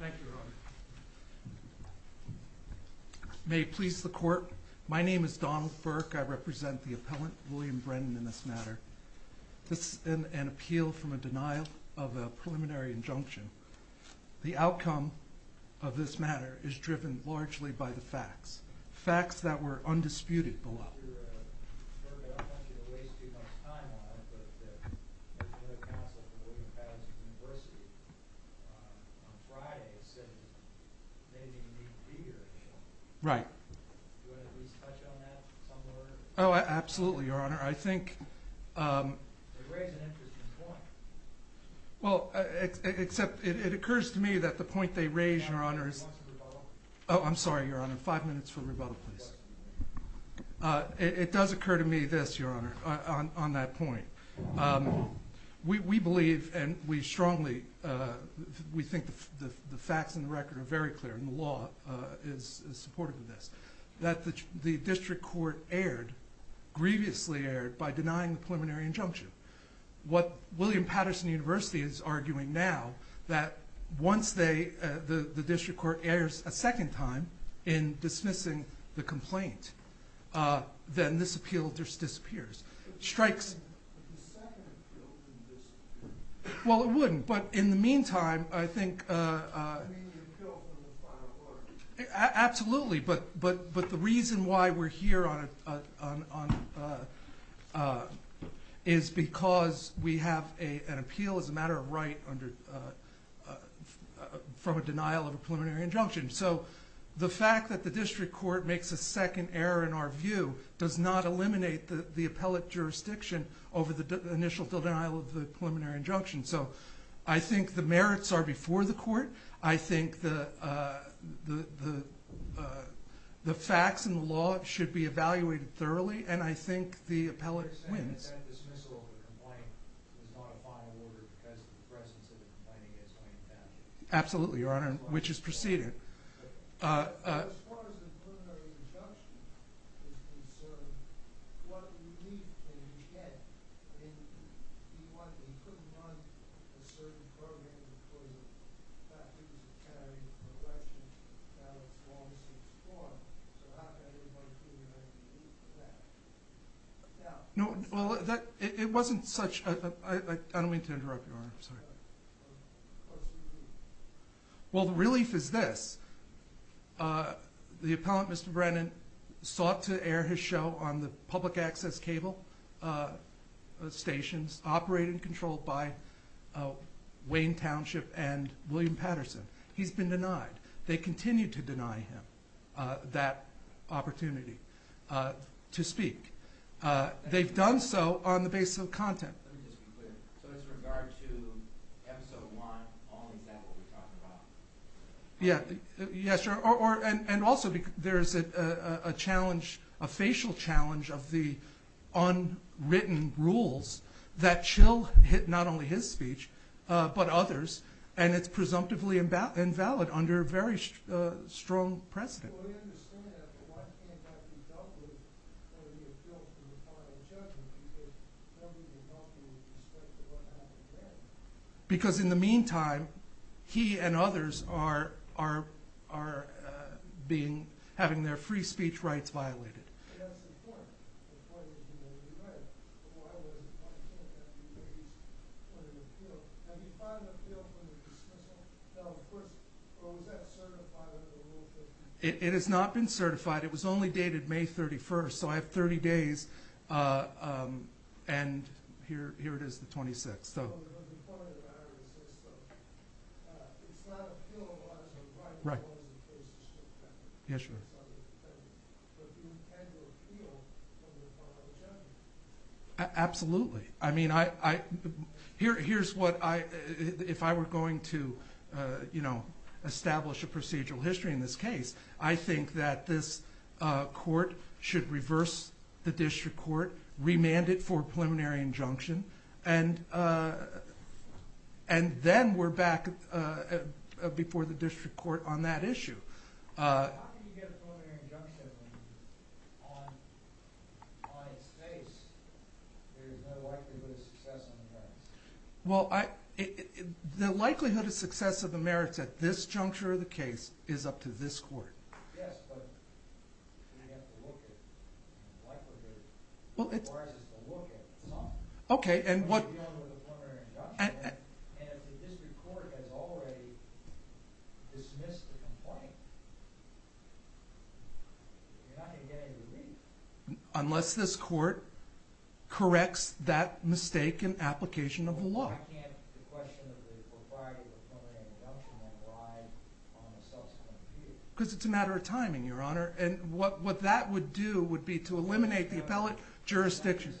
Thank you, Your Honor. May it please the Court, my name is Donald Burke. I represent the appellant, William Brennan, in this matter. This is an appeal from a denial of a preliminary injunction. The outcome of this matter is driven largely by the facts. Facts that were Right. Oh, absolutely, Your Honor. I think, well, except it occurs to me that the point they raise, Your Honor, is, oh, I'm sorry, Your Honor. Five minutes for rebuttal, please. It does occur to me this, Your Honor, on that point. We believe, and we strongly, we think the facts and the record are very clear, and the law is supportive of this, that the district court erred, grievously erred, by denying the preliminary injunction. What William Patterson University is arguing now, that once they, the district court errs a second time in dismissing the complaint, then this appeal just disappears. It strikes... But the second appeal wouldn't disappear. Well, it wouldn't, but in the meantime, I think... It would be the appeal from the final argument. Absolutely, but the reason why we're here is because we have an appeal as a matter of right from a denial of a preliminary injunction. So the fact that the district court makes a second error in our view does not eliminate the appellate jurisdiction over the initial denial of the preliminary injunction. So I think the merits are before the court. I think the facts and the law should be evaluated thoroughly, and I think the appellate wins. You're saying that that dismissal of the complaint is not a final order because of the presence of the complainant against William Patterson? Absolutely, Your Honor, which is preceded. As far as the preliminary injunction is concerned, what relief can you get? I mean, you couldn't run a certain program before the fact that you were carrying a question about Wallace's form. So how can anybody be granted relief for that? No, well, it wasn't such a... I don't mean to interrupt, Your Honor. I'm sorry. What's the relief? Well, the relief is this. The appellant, Mr. Brennan, sought to air his show on the public access cable stations operated and controlled by Wayne Township and William Patterson. He's been denied. They continue to deny him that opportunity to speak. They've done so on the basis of content. Let me just be clear. So as regard to episode one, only is that what we're talking about? Yes, Your Honor, and also there is a challenge, a facial challenge of the unwritten rules that Chill hit not only his speech but others, and it's presumptively invalid under very strong precedent. Well, we understand that, but why can't that be dealt with under the appeal for the final judgment? Nobody would help you with respect to what happened then. Because in the meantime, he and others are having their free speech rights violated. That's the point. The point is he may be right, but why can't that be raised under the appeal? Have you filed an appeal for the dismissal? No, of course, but was that certified under the rules? It has not been certified. It was only dated May 31st, so I have 30 days, and here it is, the 26th. So the point of the matter is this, though. It's not appeal, but it's a rightful one in the case of Chill Patterson. Yes, Your Honor. But do you intend to appeal under the final judgment? Absolutely. If I were going to establish a procedural history in this case, I think that this court should reverse the district court, remand it for a preliminary injunction, and then we're back before the district court on that issue. How can you get a preliminary injunction when on its face there is no likelihood of success on the merits? Well, the likelihood of success of the merits at this juncture of the case is up to this court. Yes, but we have to look at the likelihood. It requires us to look at something. Okay, and what... Unless this court corrects that mistake in application of the law. Because it's a matter of timing, Your Honor, and what that would do would be to eliminate the appellate jurisdiction.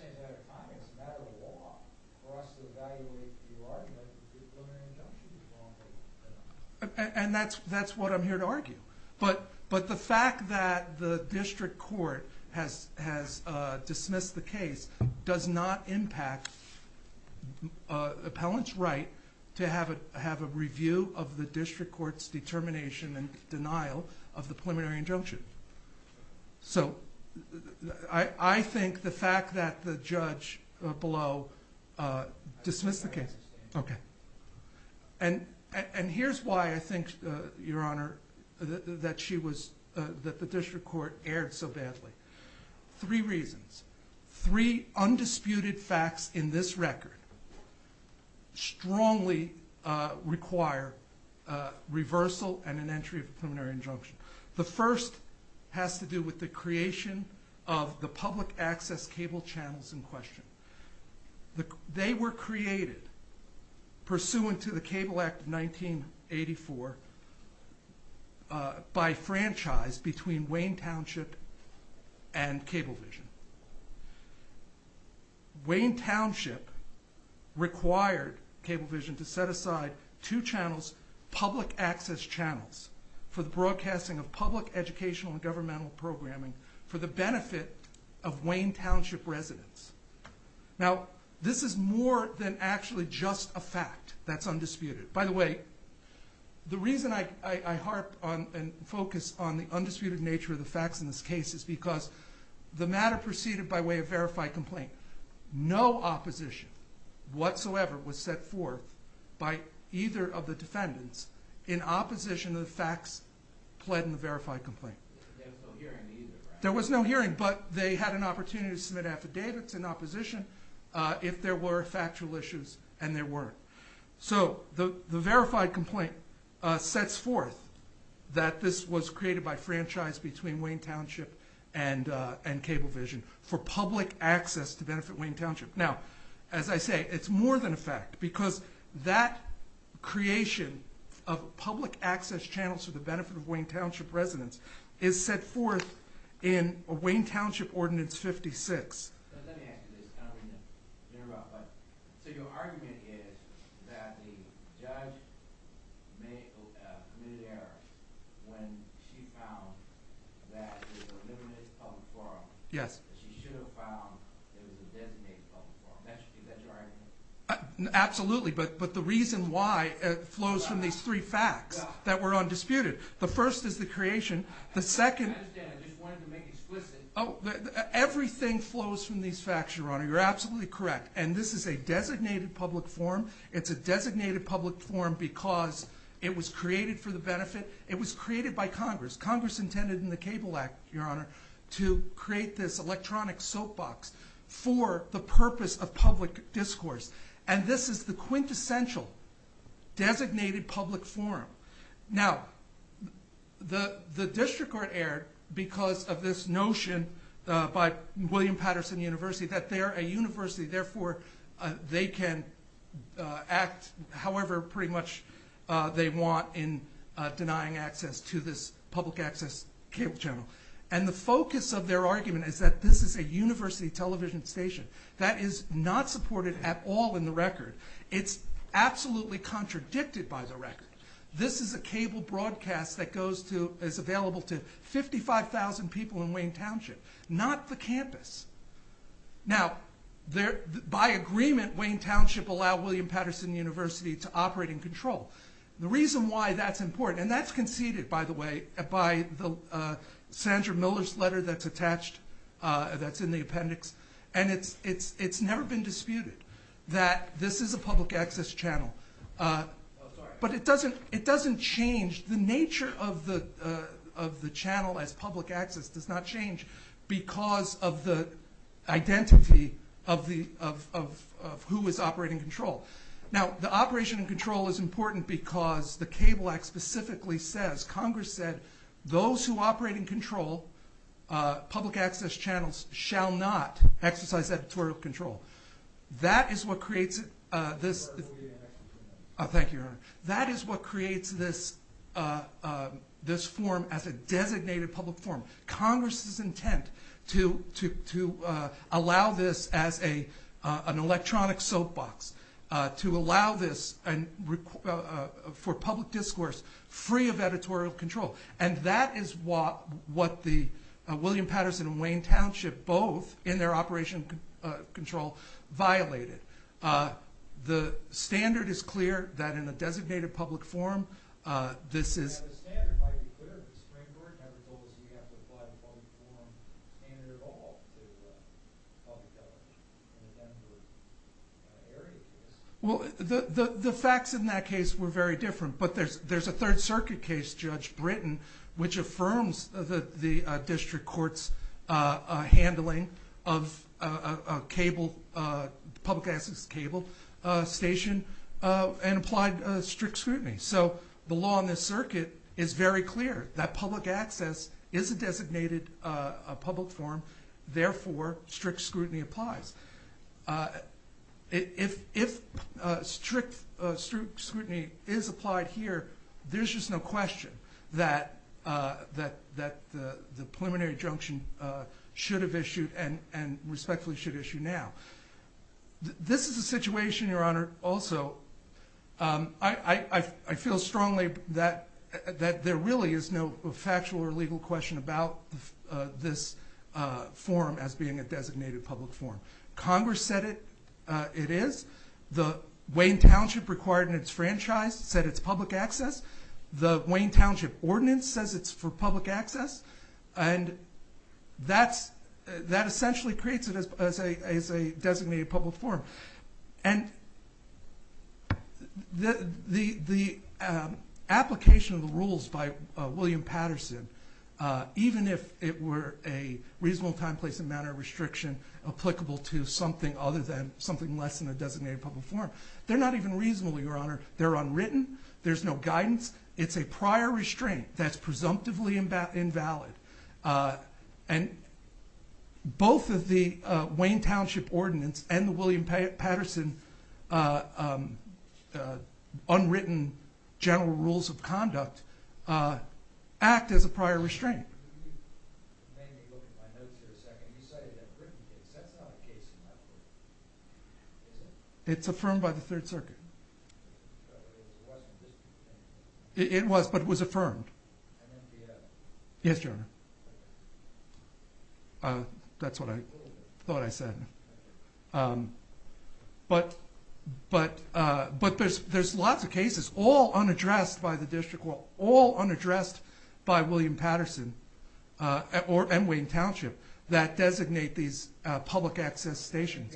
And that's what I'm here to argue. But the fact that the district court has dismissed the case does not impact appellant's right to have a review of the district court's determination and denial of the preliminary injunction. So, I think the fact that the judge below dismissed the case... Okay. And here's why I think, Your Honor, that the district court erred so badly. Three reasons. Three undisputed facts in this record strongly require reversal and an entry of a preliminary injunction. The first has to do with the creation of the public access cable channels in question. They were created pursuant to the Cable Act of 1984 by franchise between Wayne Township and Cablevision. Wayne Township required Cablevision to set aside two channels, public access channels, for the broadcasting of public educational and governmental programming for the benefit of Wayne Township residents. Now, this is more than actually just a fact that's undisputed. By the way, the reason I harp and focus on the undisputed nature of the facts in this case is because the matter proceeded by way of verified complaint. No opposition whatsoever was set forth by either of the defendants in opposition to the facts pled in the verified complaint. There was no hearing, but they had an opportunity to submit affidavits in opposition if there were factual issues, and there were. So, the verified complaint sets forth that this was created by franchise between Wayne Township and Cablevision for public access to benefit Wayne Township. Now, as I say, it's more than a fact because that creation of public access channels for the benefit of Wayne Township residents is set forth in Wayne Township Ordinance 56. So, your argument is that the judge committed an error when she found that it was a limited public forum. Yes. She should have found it was a designated public forum. Is that your argument? Absolutely, but the reason why flows from these three facts that were undisputed. The first is the creation. The second... I understand. I just wanted to make it explicit. Oh, everything flows from these facts, Your Honor. You're absolutely correct. And this is a designated public forum. It's a designated public forum because it was created for the benefit. It was created by Congress. Congress intended in the Cable Act, Your Honor, to create this electronic soapbox for the purpose of public discourse. And this is the quintessential designated public forum. Now, the district court erred because of this notion by William Patterson University that they're a university, therefore they can act however pretty much they want in denying access to this public access cable channel. And the focus of their argument is that this is a university television station. It's absolutely contradicted by the record. This is a cable broadcast that is available to 55,000 people in Wayne Township, not the campus. Now, by agreement, Wayne Township allowed William Patterson University to operate in control. The reason why that's important, and that's conceded, by the way, by Sandra Miller's letter that's attached, that's in the appendix. And it's never been disputed that this is a public access channel. But it doesn't change. The nature of the channel as public access does not change because of the identity of who is operating in control. Now, the operation in control is important because the Cable Act specifically says, Congress said, those who operate in control, public access channels, shall not exercise editorial control. That is what creates this form as a designated public forum. Congress's intent to allow this as an electronic soapbox, to allow this for public discourse, free of editorial control. And that is what the William Patterson and Wayne Township, both in their operation in control, violated. The standard is clear that in a designated public forum, this is... The court never told us we have to apply the public forum standard at all with public government in the Denver area case. Well, the facts in that case were very different. But there's a Third Circuit case, Judge Britton, which affirms the district court's handling of a public access cable station and applied strict scrutiny. So the law in this circuit is very clear, that public access is a designated public forum, therefore strict scrutiny applies. If strict scrutiny is applied here, there's just no question that the preliminary injunction should have issued and respectfully should issue now. This is a situation, Your Honor, also... I feel strongly that there really is no factual or legal question about this forum as being a designated public forum. Congress said it is. The Wayne Township required in its franchise said it's public access. The Wayne Township ordinance says it's for public access. And that essentially creates it as a designated public forum. And the application of the rules by William Patterson, even if it were a reasonable time, place, and manner restriction applicable to something other than something less than a designated public forum, they're not even reasonable, Your Honor. They're unwritten. There's no guidance. It's a prior restraint that's presumptively invalid. And both of the Wayne Township ordinance and the William Patterson unwritten general rules of conduct act as a prior restraint. It's affirmed by the Third Circuit. It was, but it was affirmed. Yes, Your Honor. That's what I thought I said. But there's lots of cases, all unaddressed by the district court, all unaddressed by William Patterson and Wayne Township that designate these public access stations.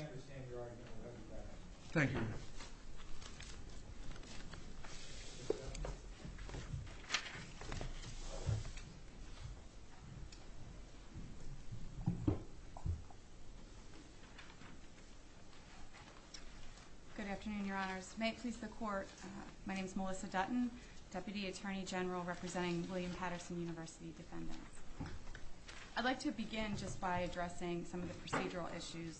Thank you. Melissa Dutton Good afternoon, Your Honors. May it please the court, my name is Melissa Dutton, Deputy Attorney General representing William Patterson University defendants. I'd like to begin just by addressing some of the procedural issues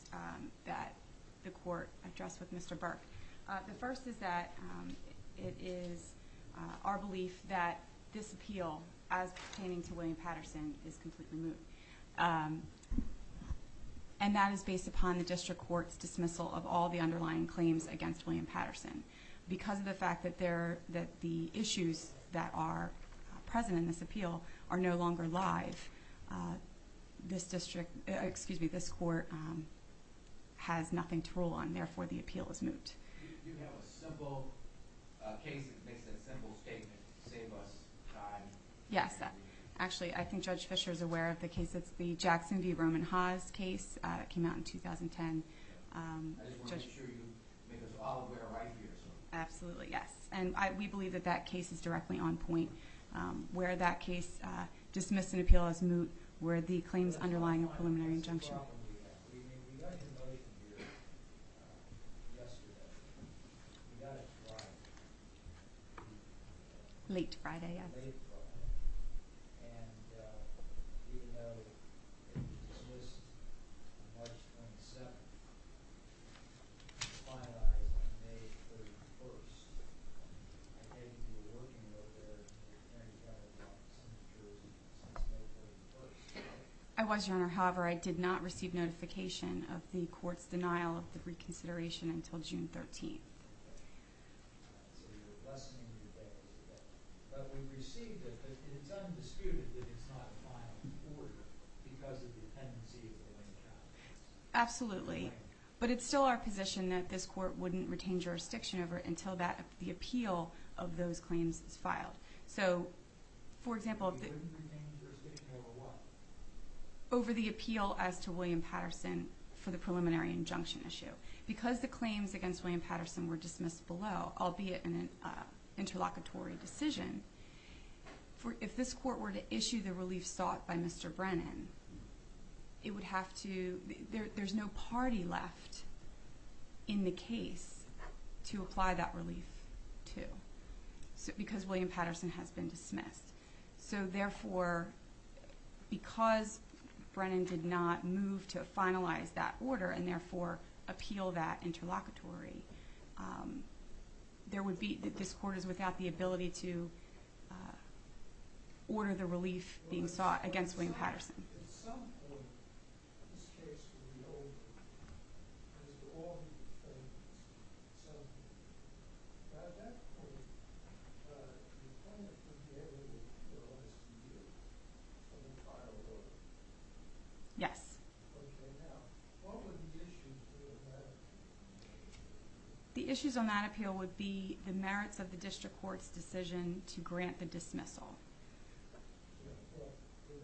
that the court addressed with Mr. Burke. The first is that it is our belief that this appeal, as pertaining to William Patterson, is completely moot. And that is based upon the district court's dismissal of all the underlying claims against William Patterson. Because of the fact that the issues that are present in this appeal are no longer live, this district, excuse me, this court has nothing to rule on, therefore the appeal is moot. Do you have a simple case that makes that simple statement, save us time? Yes, actually I think Judge Fischer is aware of the case, it's the Jackson v. Roman Haas case, it came out in 2010. I just want to make sure you make us all aware right here. Absolutely, yes. And we believe that that case is directly on point. Where that case dismissed an appeal as moot were the claims underlying a preliminary injunction. I was, Your Honor, however I did not receive notification of the court's denial of the reconsideration until June 13th. Absolutely, but it's still our position that this court wouldn't retain jurisdiction over it until the appeal of those claims is filed. You wouldn't retain jurisdiction over what? Over the appeal as to William Patterson for the preliminary injunction issue. Because the claims against William Patterson were dismissed below, albeit an interlocutory decision, if this court were to issue the relief sought by Mr. Brennan, there's no party left in the case to apply that relief to. Because William Patterson has been dismissed. So therefore, because Brennan did not move to finalize that order and therefore appeal that interlocutory, this court is without the ability to order the relief being sought against William Patterson. The claimant would be able to finalize the appeal of the final order? Yes. Okay, now, what would the issues on that appeal be? Yeah, well, would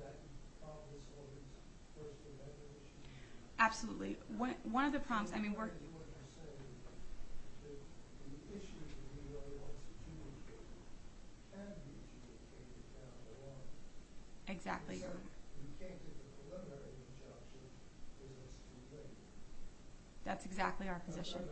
that be problems for the court to have that issue? Absolutely. One of the problems, I mean, we're... Exactly. That's exactly our position.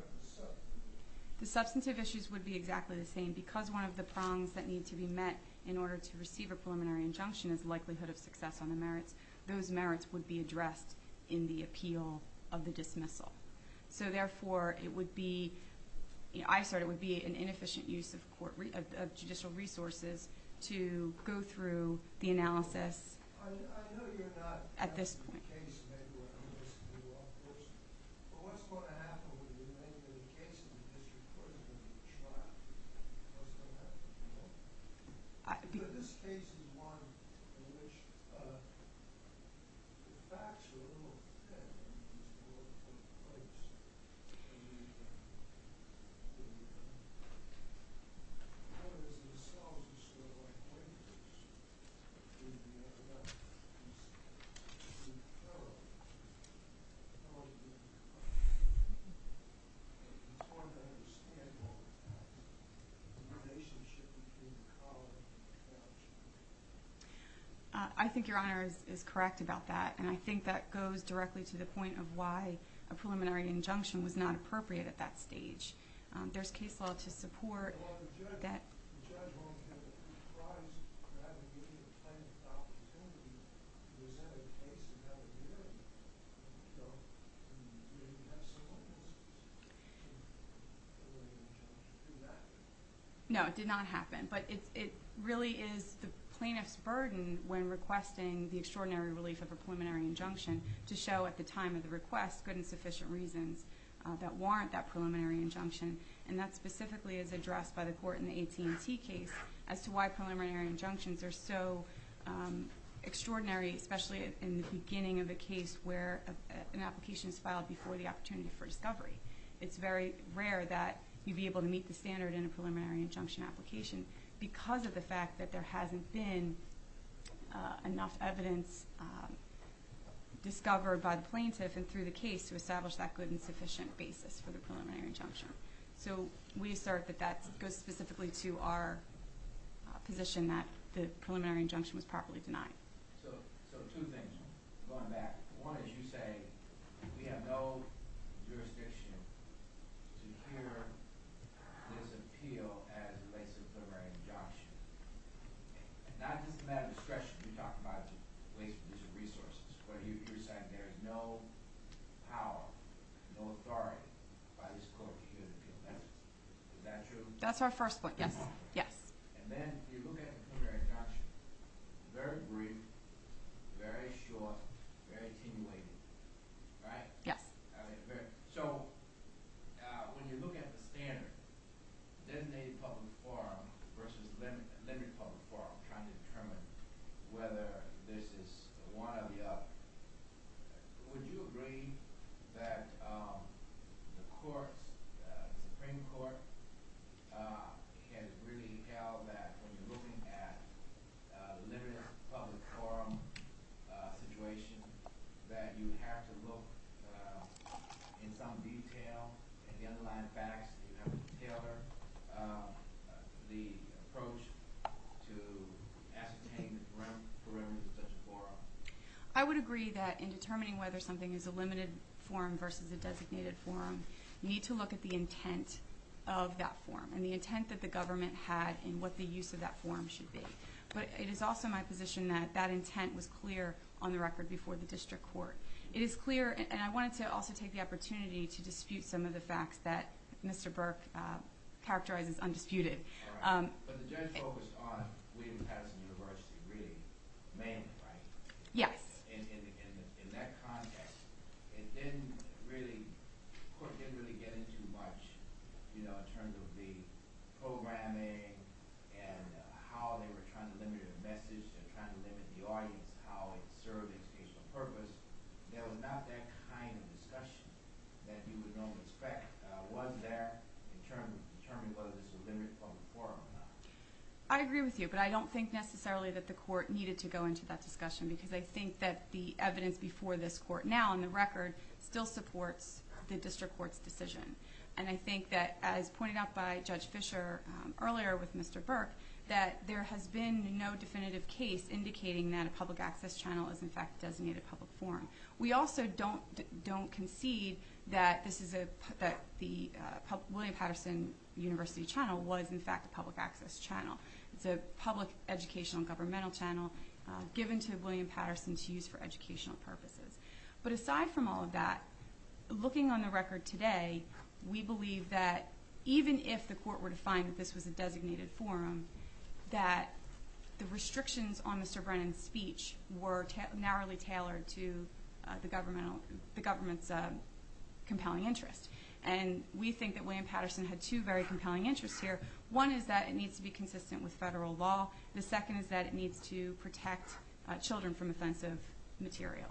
The substantive issues would be exactly the same. Because one of the problems that need to be met in order to receive a preliminary injunction is the likelihood of success on the merits, those merits would be addressed in the appeal of the dismissal. So therefore, it would be an inefficient use of judicial resources to go through the analysis at this point. Questioner 2 I think Your Honor is correct about that. And I think that goes directly to the point of why a preliminary injunction was not appropriate at that stage. There's case law to support that... No. No, it did not happen. But it really is the plaintiff's burden when requesting the extraordinary relief of a preliminary injunction to show at the time of the request good and sufficient reasons that warrant that preliminary injunction. And that specifically is addressed by the court in the AT&T case as to why preliminary injunctions are so extraordinary, especially in the beginning of a case where an application is filed before the opportunity for discovery. It's very rare that you'd be able to meet the standard in a preliminary injunction application because of the fact that there hasn't been enough evidence discovered by the plaintiff and through the case to establish that good and sufficient basis for the preliminary injunction. So we assert that that goes specifically to our position that the preliminary injunction was properly denied. So two things going back. One is you say we have no jurisdiction to hear this appeal as it relates to a preliminary injunction. Not just a matter of discretion. You talked about the waste of resources. But you're saying there's no power, no authority by this court to hear the appeal. Is that true? That's our first point, yes. And then you look at the preliminary injunction. Very brief, very short, very attenuated, right? Yes. So when you look at the standard, designated public forum versus limited public forum, trying to determine whether this is one or the other, would you agree that the Supreme Court has really held that when you're looking at a limited public forum situation, that you have to look in some detail at the underlying facts in order to tailor the approach to ascertain the parameters of such a forum? I would agree that in determining whether something is a limited forum versus a designated forum, you need to look at the intent of that forum and the intent that the government had and what the use of that forum should be. But it is also my position that that intent was clear on the record before the district court. It is clear, and I wanted to also take the opportunity to dispute some of the facts that Mr. Burke characterized as undisputed. All right. But the judge focused on William Pattinson University really mainly, right? Yes. In that context, the court didn't really get into much in terms of the programming and how they were trying to limit the message and trying to limit the audience, how it served the educational purpose. There was not that kind of discussion that you would normally expect. Was there in terms of determining whether this was a limited public forum or not? I agree with you, but I don't think necessarily that the court needed to go into that discussion because I think that the evidence before this court now on the record still supports the district court's decision. And I think that, as pointed out by Judge Fisher earlier with Mr. Burke, that there has been no definitive case indicating that a public access channel is, in fact, a designated public forum. We also don't concede that the William Pattinson University channel was, in fact, a public access channel. It's a public educational governmental channel given to William Pattinson to use for educational purposes. But aside from all of that, looking on the record today, we believe that even if the court were to find that this was a designated forum, that the restrictions on Mr. Brennan's speech were narrowly tailored to the government's compelling interest. And we think that William Pattinson had two very compelling interests here. One is that it needs to be consistent with federal law. The second is that it needs to protect children from offensive material.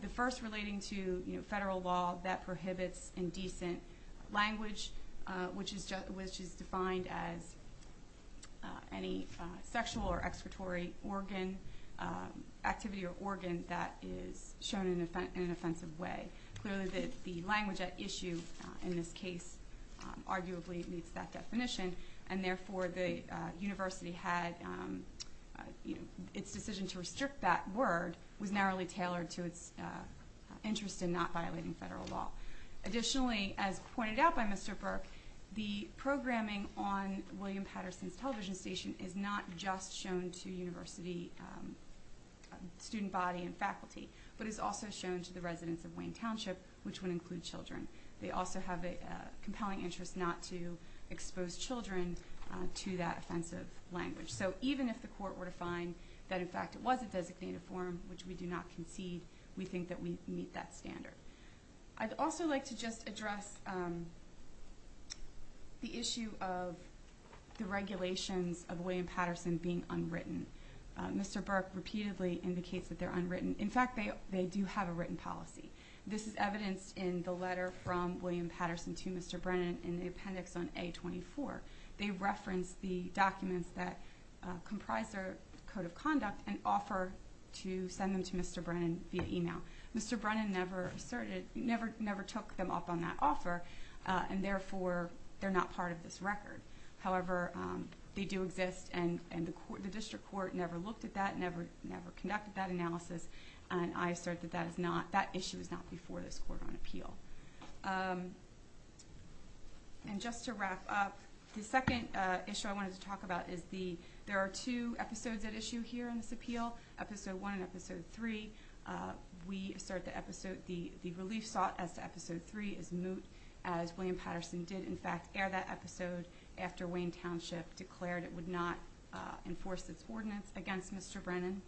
The first relating to federal law that prohibits indecent language, which is defined as any sexual or excretory organ, activity or organ, that is shown in an offensive way. Clearly the language at issue in this case arguably meets that definition, and therefore the university had its decision to restrict that word was narrowly tailored to its interest in not violating federal law. Additionally, as pointed out by Mr. Burke, the programming on William Pattinson's television station is not just shown to university student body and faculty, but is also shown to the residents of Wayne Township, which would include children. They also have a compelling interest not to expose children to that offensive language. So even if the court were to find that in fact it was a designated forum, which we do not concede, we think that we meet that standard. I'd also like to just address the issue of the regulations of William Pattinson being unwritten. Mr. Burke repeatedly indicates that they're unwritten. In fact, they do have a written policy. This is evidenced in the letter from William Pattinson to Mr. Brennan in the appendix on A24. They reference the documents that comprise their code of conduct and offer to send them to Mr. Brennan via email. Mr. Brennan never took them up on that offer, and therefore they're not part of this record. However, they do exist, and the district court never looked at that, never conducted that analysis, and I assert that that issue is not before this court on appeal. And just to wrap up, the second issue I wanted to talk about is the there are two episodes at issue here in this appeal, Episode 1 and Episode 3. We assert that the relief sought as to Episode 3 is moot, as William Pattinson did in fact air that episode after Wayne Township declared it would not enforce its ordinance against Mr. Brennan.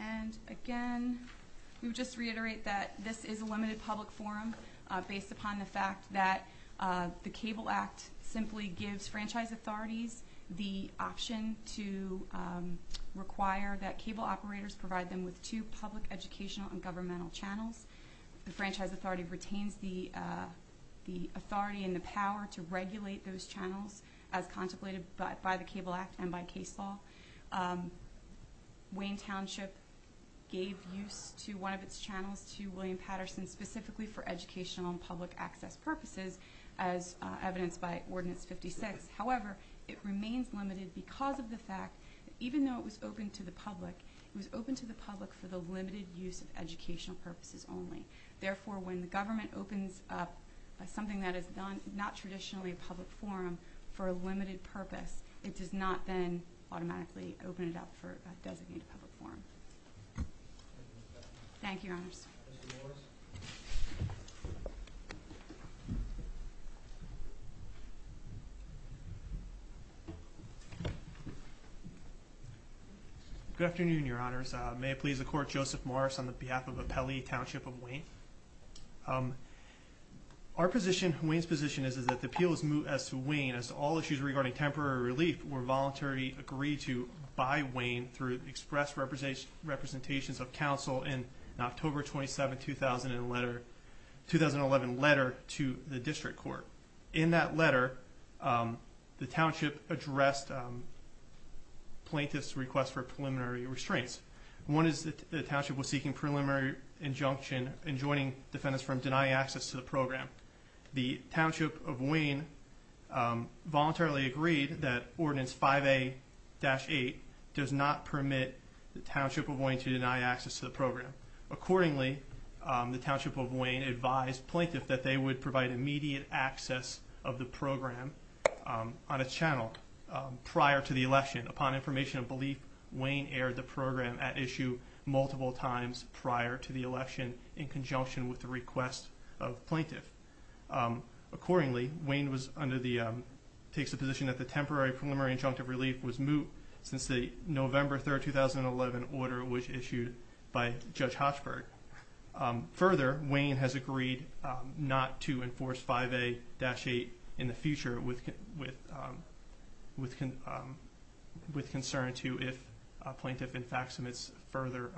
And again, we would just reiterate that this is a limited public forum based upon the fact that the Cable Act simply gives franchise authorities the option to require that cable operators provide them with two public educational and governmental channels. The franchise authority retains the authority and the power to regulate those channels as contemplated by the Cable Act and by case law. Wayne Township gave use to one of its channels to William Pattinson specifically for educational and public access purposes, as evidenced by Ordinance 56. However, it remains limited because of the fact that even though it was open to the public, it was open to the public for the limited use of educational purposes only. Therefore, when the government opens up something that is not traditionally a public forum for a limited purpose, it does not then automatically open it up for a designated public forum. Thank you, Your Honors. Mr. Morris. Good afternoon, Your Honors. May it please the Court, Joseph Morris on behalf of the Pele Township of Wayne. Our position, Wayne's position, is that the appeals move as to Wayne as all issues regarding temporary relief were voluntarily agreed to by Wayne through express representations of counsel in an October 27, 2011 letter to the District Court. In that letter, the Township addressed plaintiff's request for preliminary restraints. One is that the Township was seeking preliminary injunction in joining defendants from denying access to the program. The Township of Wayne voluntarily agreed that Ordinance 5A-8 does not permit the Township of Wayne to deny access to the program. Accordingly, the Township of Wayne advised plaintiff that they would provide immediate access of the program on its channel prior to the election. Upon information of belief, Wayne aired the program at issue multiple times prior to the election in conjunction with the request of plaintiff. Accordingly, Wayne takes the position that the temporary preliminary injunctive relief was moot since the November 3, 2011 order was issued by Judge Hochberg. Further, Wayne has agreed not to enforce 5A-8 in the future with concern to if a plaintiff in fact submits further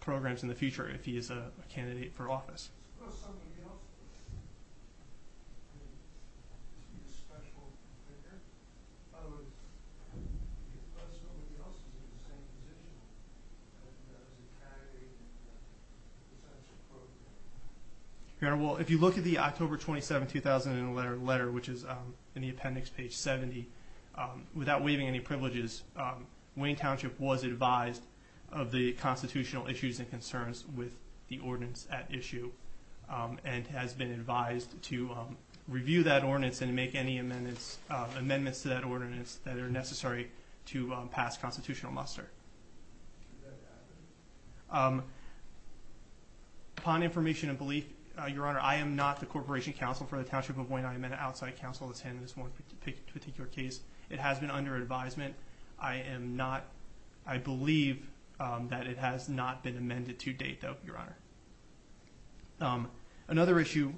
programs in the future if he is a candidate for office. If you look at the October 27, 2011 letter, which is in the appendix, page 70, without waiving any privileges, Wayne Township was advised of the constitutional issues and concerns with the ordinance at issue and has been advised to review that ordinance and make any amendments to that ordinance that are necessary to pass constitutional muster. Upon information of belief, Your Honor, I am not the Corporation Counsel for the Township of Wayne. I am an outside counsel attending this one particular case. It has been under advisement. I believe that it has not been amended to date, though, Your Honor. Another issue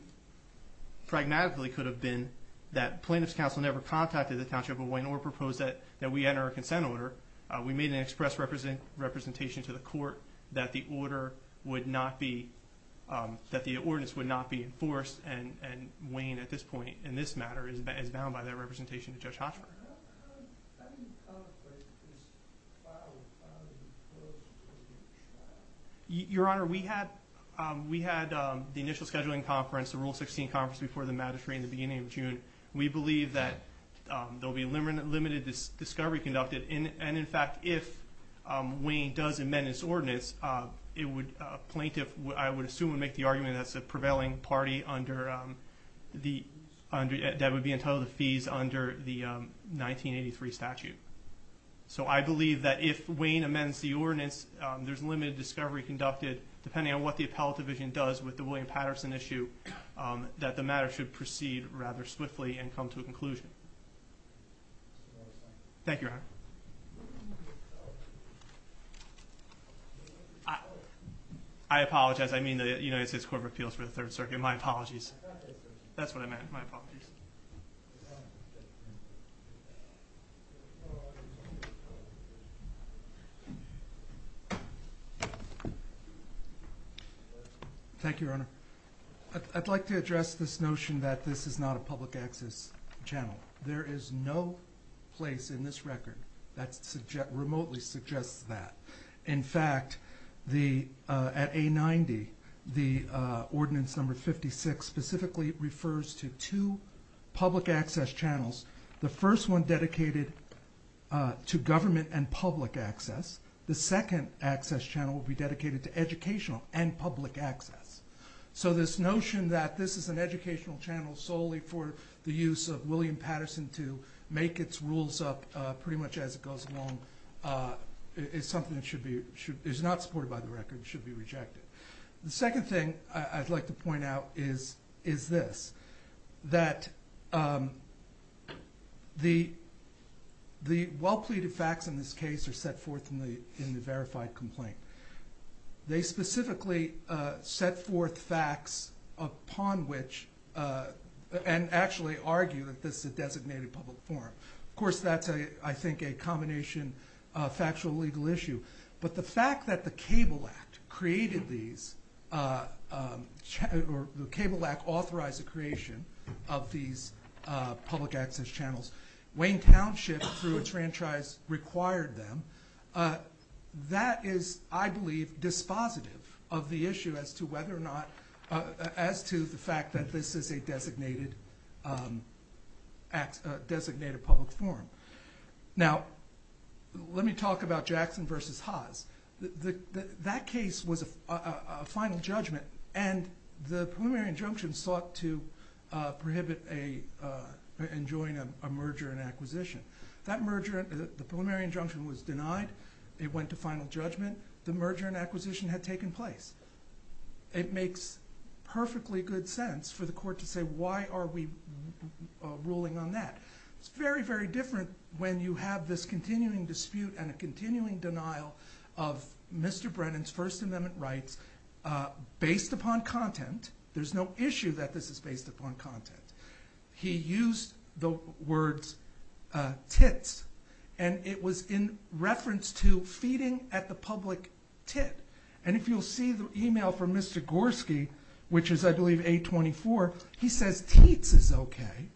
pragmatically could have been that Plaintiff's Counsel never contacted the Township of Wayne or proposed that we enter a consent order. We made an express representation to the court that the ordinance would not be enforced, and Wayne at this point in this matter is bound by that representation to Judge Hochberg. Your Honor, we had the initial scheduling conference, the Rule 16 conference, before the magistrate in the beginning of June. We believe that there will be limited discovery conducted, and in fact, if Wayne does amend this ordinance, a plaintiff, I would assume, would make the argument that it's a prevailing party that would be entitled to fees under the 1983 statute. So I believe that if Wayne amends the ordinance, there's limited discovery conducted, depending on what the appellate division does with the William Patterson issue, that the matter should proceed rather swiftly and come to a conclusion. Thank you, Your Honor. I apologize. I mean the United States Court of Appeals for the Third Circuit. My apologies. That's what I meant. My apologies. Thank you, Your Honor. I'd like to address this notion that this is not a public access channel. There is no place in this record that remotely suggests that. In fact, at A90, the Ordinance No. 56 specifically refers to two public access channels. The first one dedicated to government and public access. The second access channel will be dedicated to educational and public access. So this notion that this is an educational channel solely for the use of William Patterson to make its rules up pretty much as it goes along is not supported by the record. It should be rejected. The second thing I'd like to point out is this, that the well-pleaded facts in this case are set forth in the verified complaint. They specifically set forth facts upon which and actually argue that this is a designated public forum. Of course, that's, I think, a combination of factual legal issue. But the fact that the Cable Act created these or the Cable Act authorized the creation of these public access channels, weighing township through a franchise required them, that is, I believe, dispositive of the issue as to whether or not, as to the fact that this is a designated public forum. Now, let me talk about Jackson v. Haas. That case was a final judgment, and the preliminary injunction sought to prohibit enjoying a merger and acquisition. That merger, the preliminary injunction was denied. It went to final judgment. The merger and acquisition had taken place. It makes perfectly good sense for the Court to say, why are we ruling on that? It's very, very different when you have this continuing dispute and a continuing denial of Mr. Brennan's First Amendment rights based upon content. There's no issue that this is based upon content. He used the words tits, and it was in reference to feeding at the public tit. And if you'll see the email from Mr. Gorski, which is, I believe, 824, he says teats is okay,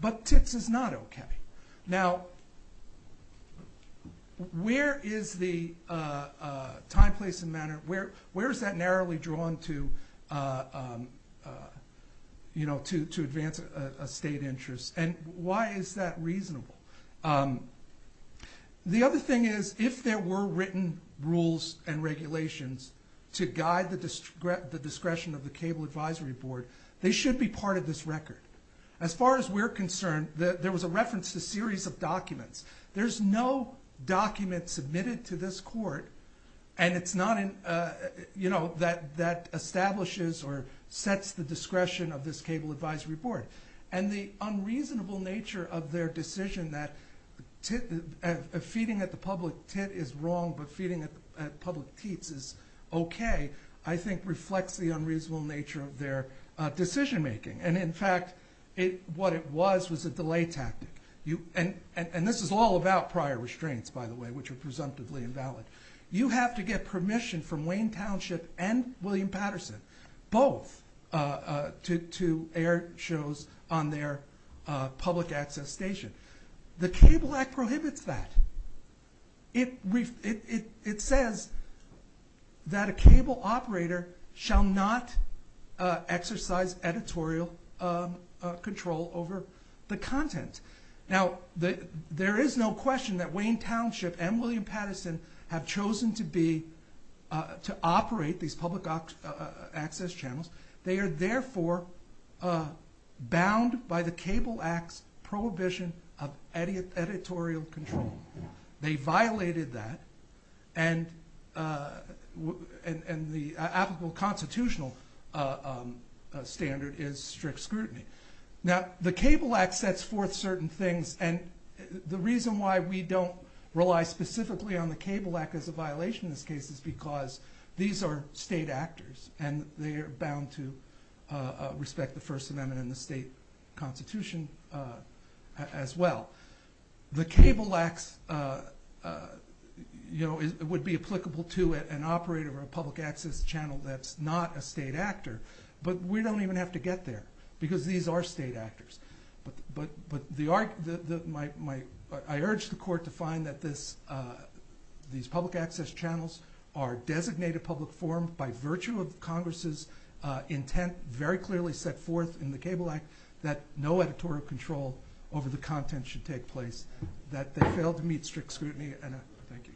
but tits is not okay. Where is that narrowly drawn to advance a state interest? And why is that reasonable? The other thing is, if there were written rules and regulations to guide the discretion of the Cable Advisory Board, they should be part of this record. As far as we're concerned, there was a reference to a series of documents. There's no document submitted to this Court, and it's not in, you know, that establishes or sets the discretion of this Cable Advisory Board. And the unreasonable nature of their decision that feeding at the public tit is wrong, but feeding at public teats is okay, I think reflects the unreasonable nature of their decision-making. And in fact, what it was was a delay tactic. And this is all about prior restraints, by the way, which are presumptively invalid. You have to get permission from Wayne Township and William Patterson, both, to air shows on their public access station. The Cable Act prohibits that. It says that a cable operator shall not exercise editorial control over the content. Now, there is no question that Wayne Township and William Patterson have chosen to operate these public access channels. They are therefore bound by the Cable Act's prohibition of editorial control. They violated that, and the applicable constitutional standard is strict scrutiny. Now, the Cable Act sets forth certain things, and the reason why we don't rely specifically on the Cable Act as a violation in this case is because these are state actors, and they are bound to respect the First Amendment and the state constitution as well. The Cable Act would be applicable to an operator or a public access channel that's not a state actor, but we don't even have to get there because these are state actors. I urge the Court to find that these public access channels are designated public forum by virtue of Congress's intent, very clearly set forth in the Cable Act, that no editorial control over the content should take place, that they fail to meet strict scrutiny. Thank you, Judge. Thank you.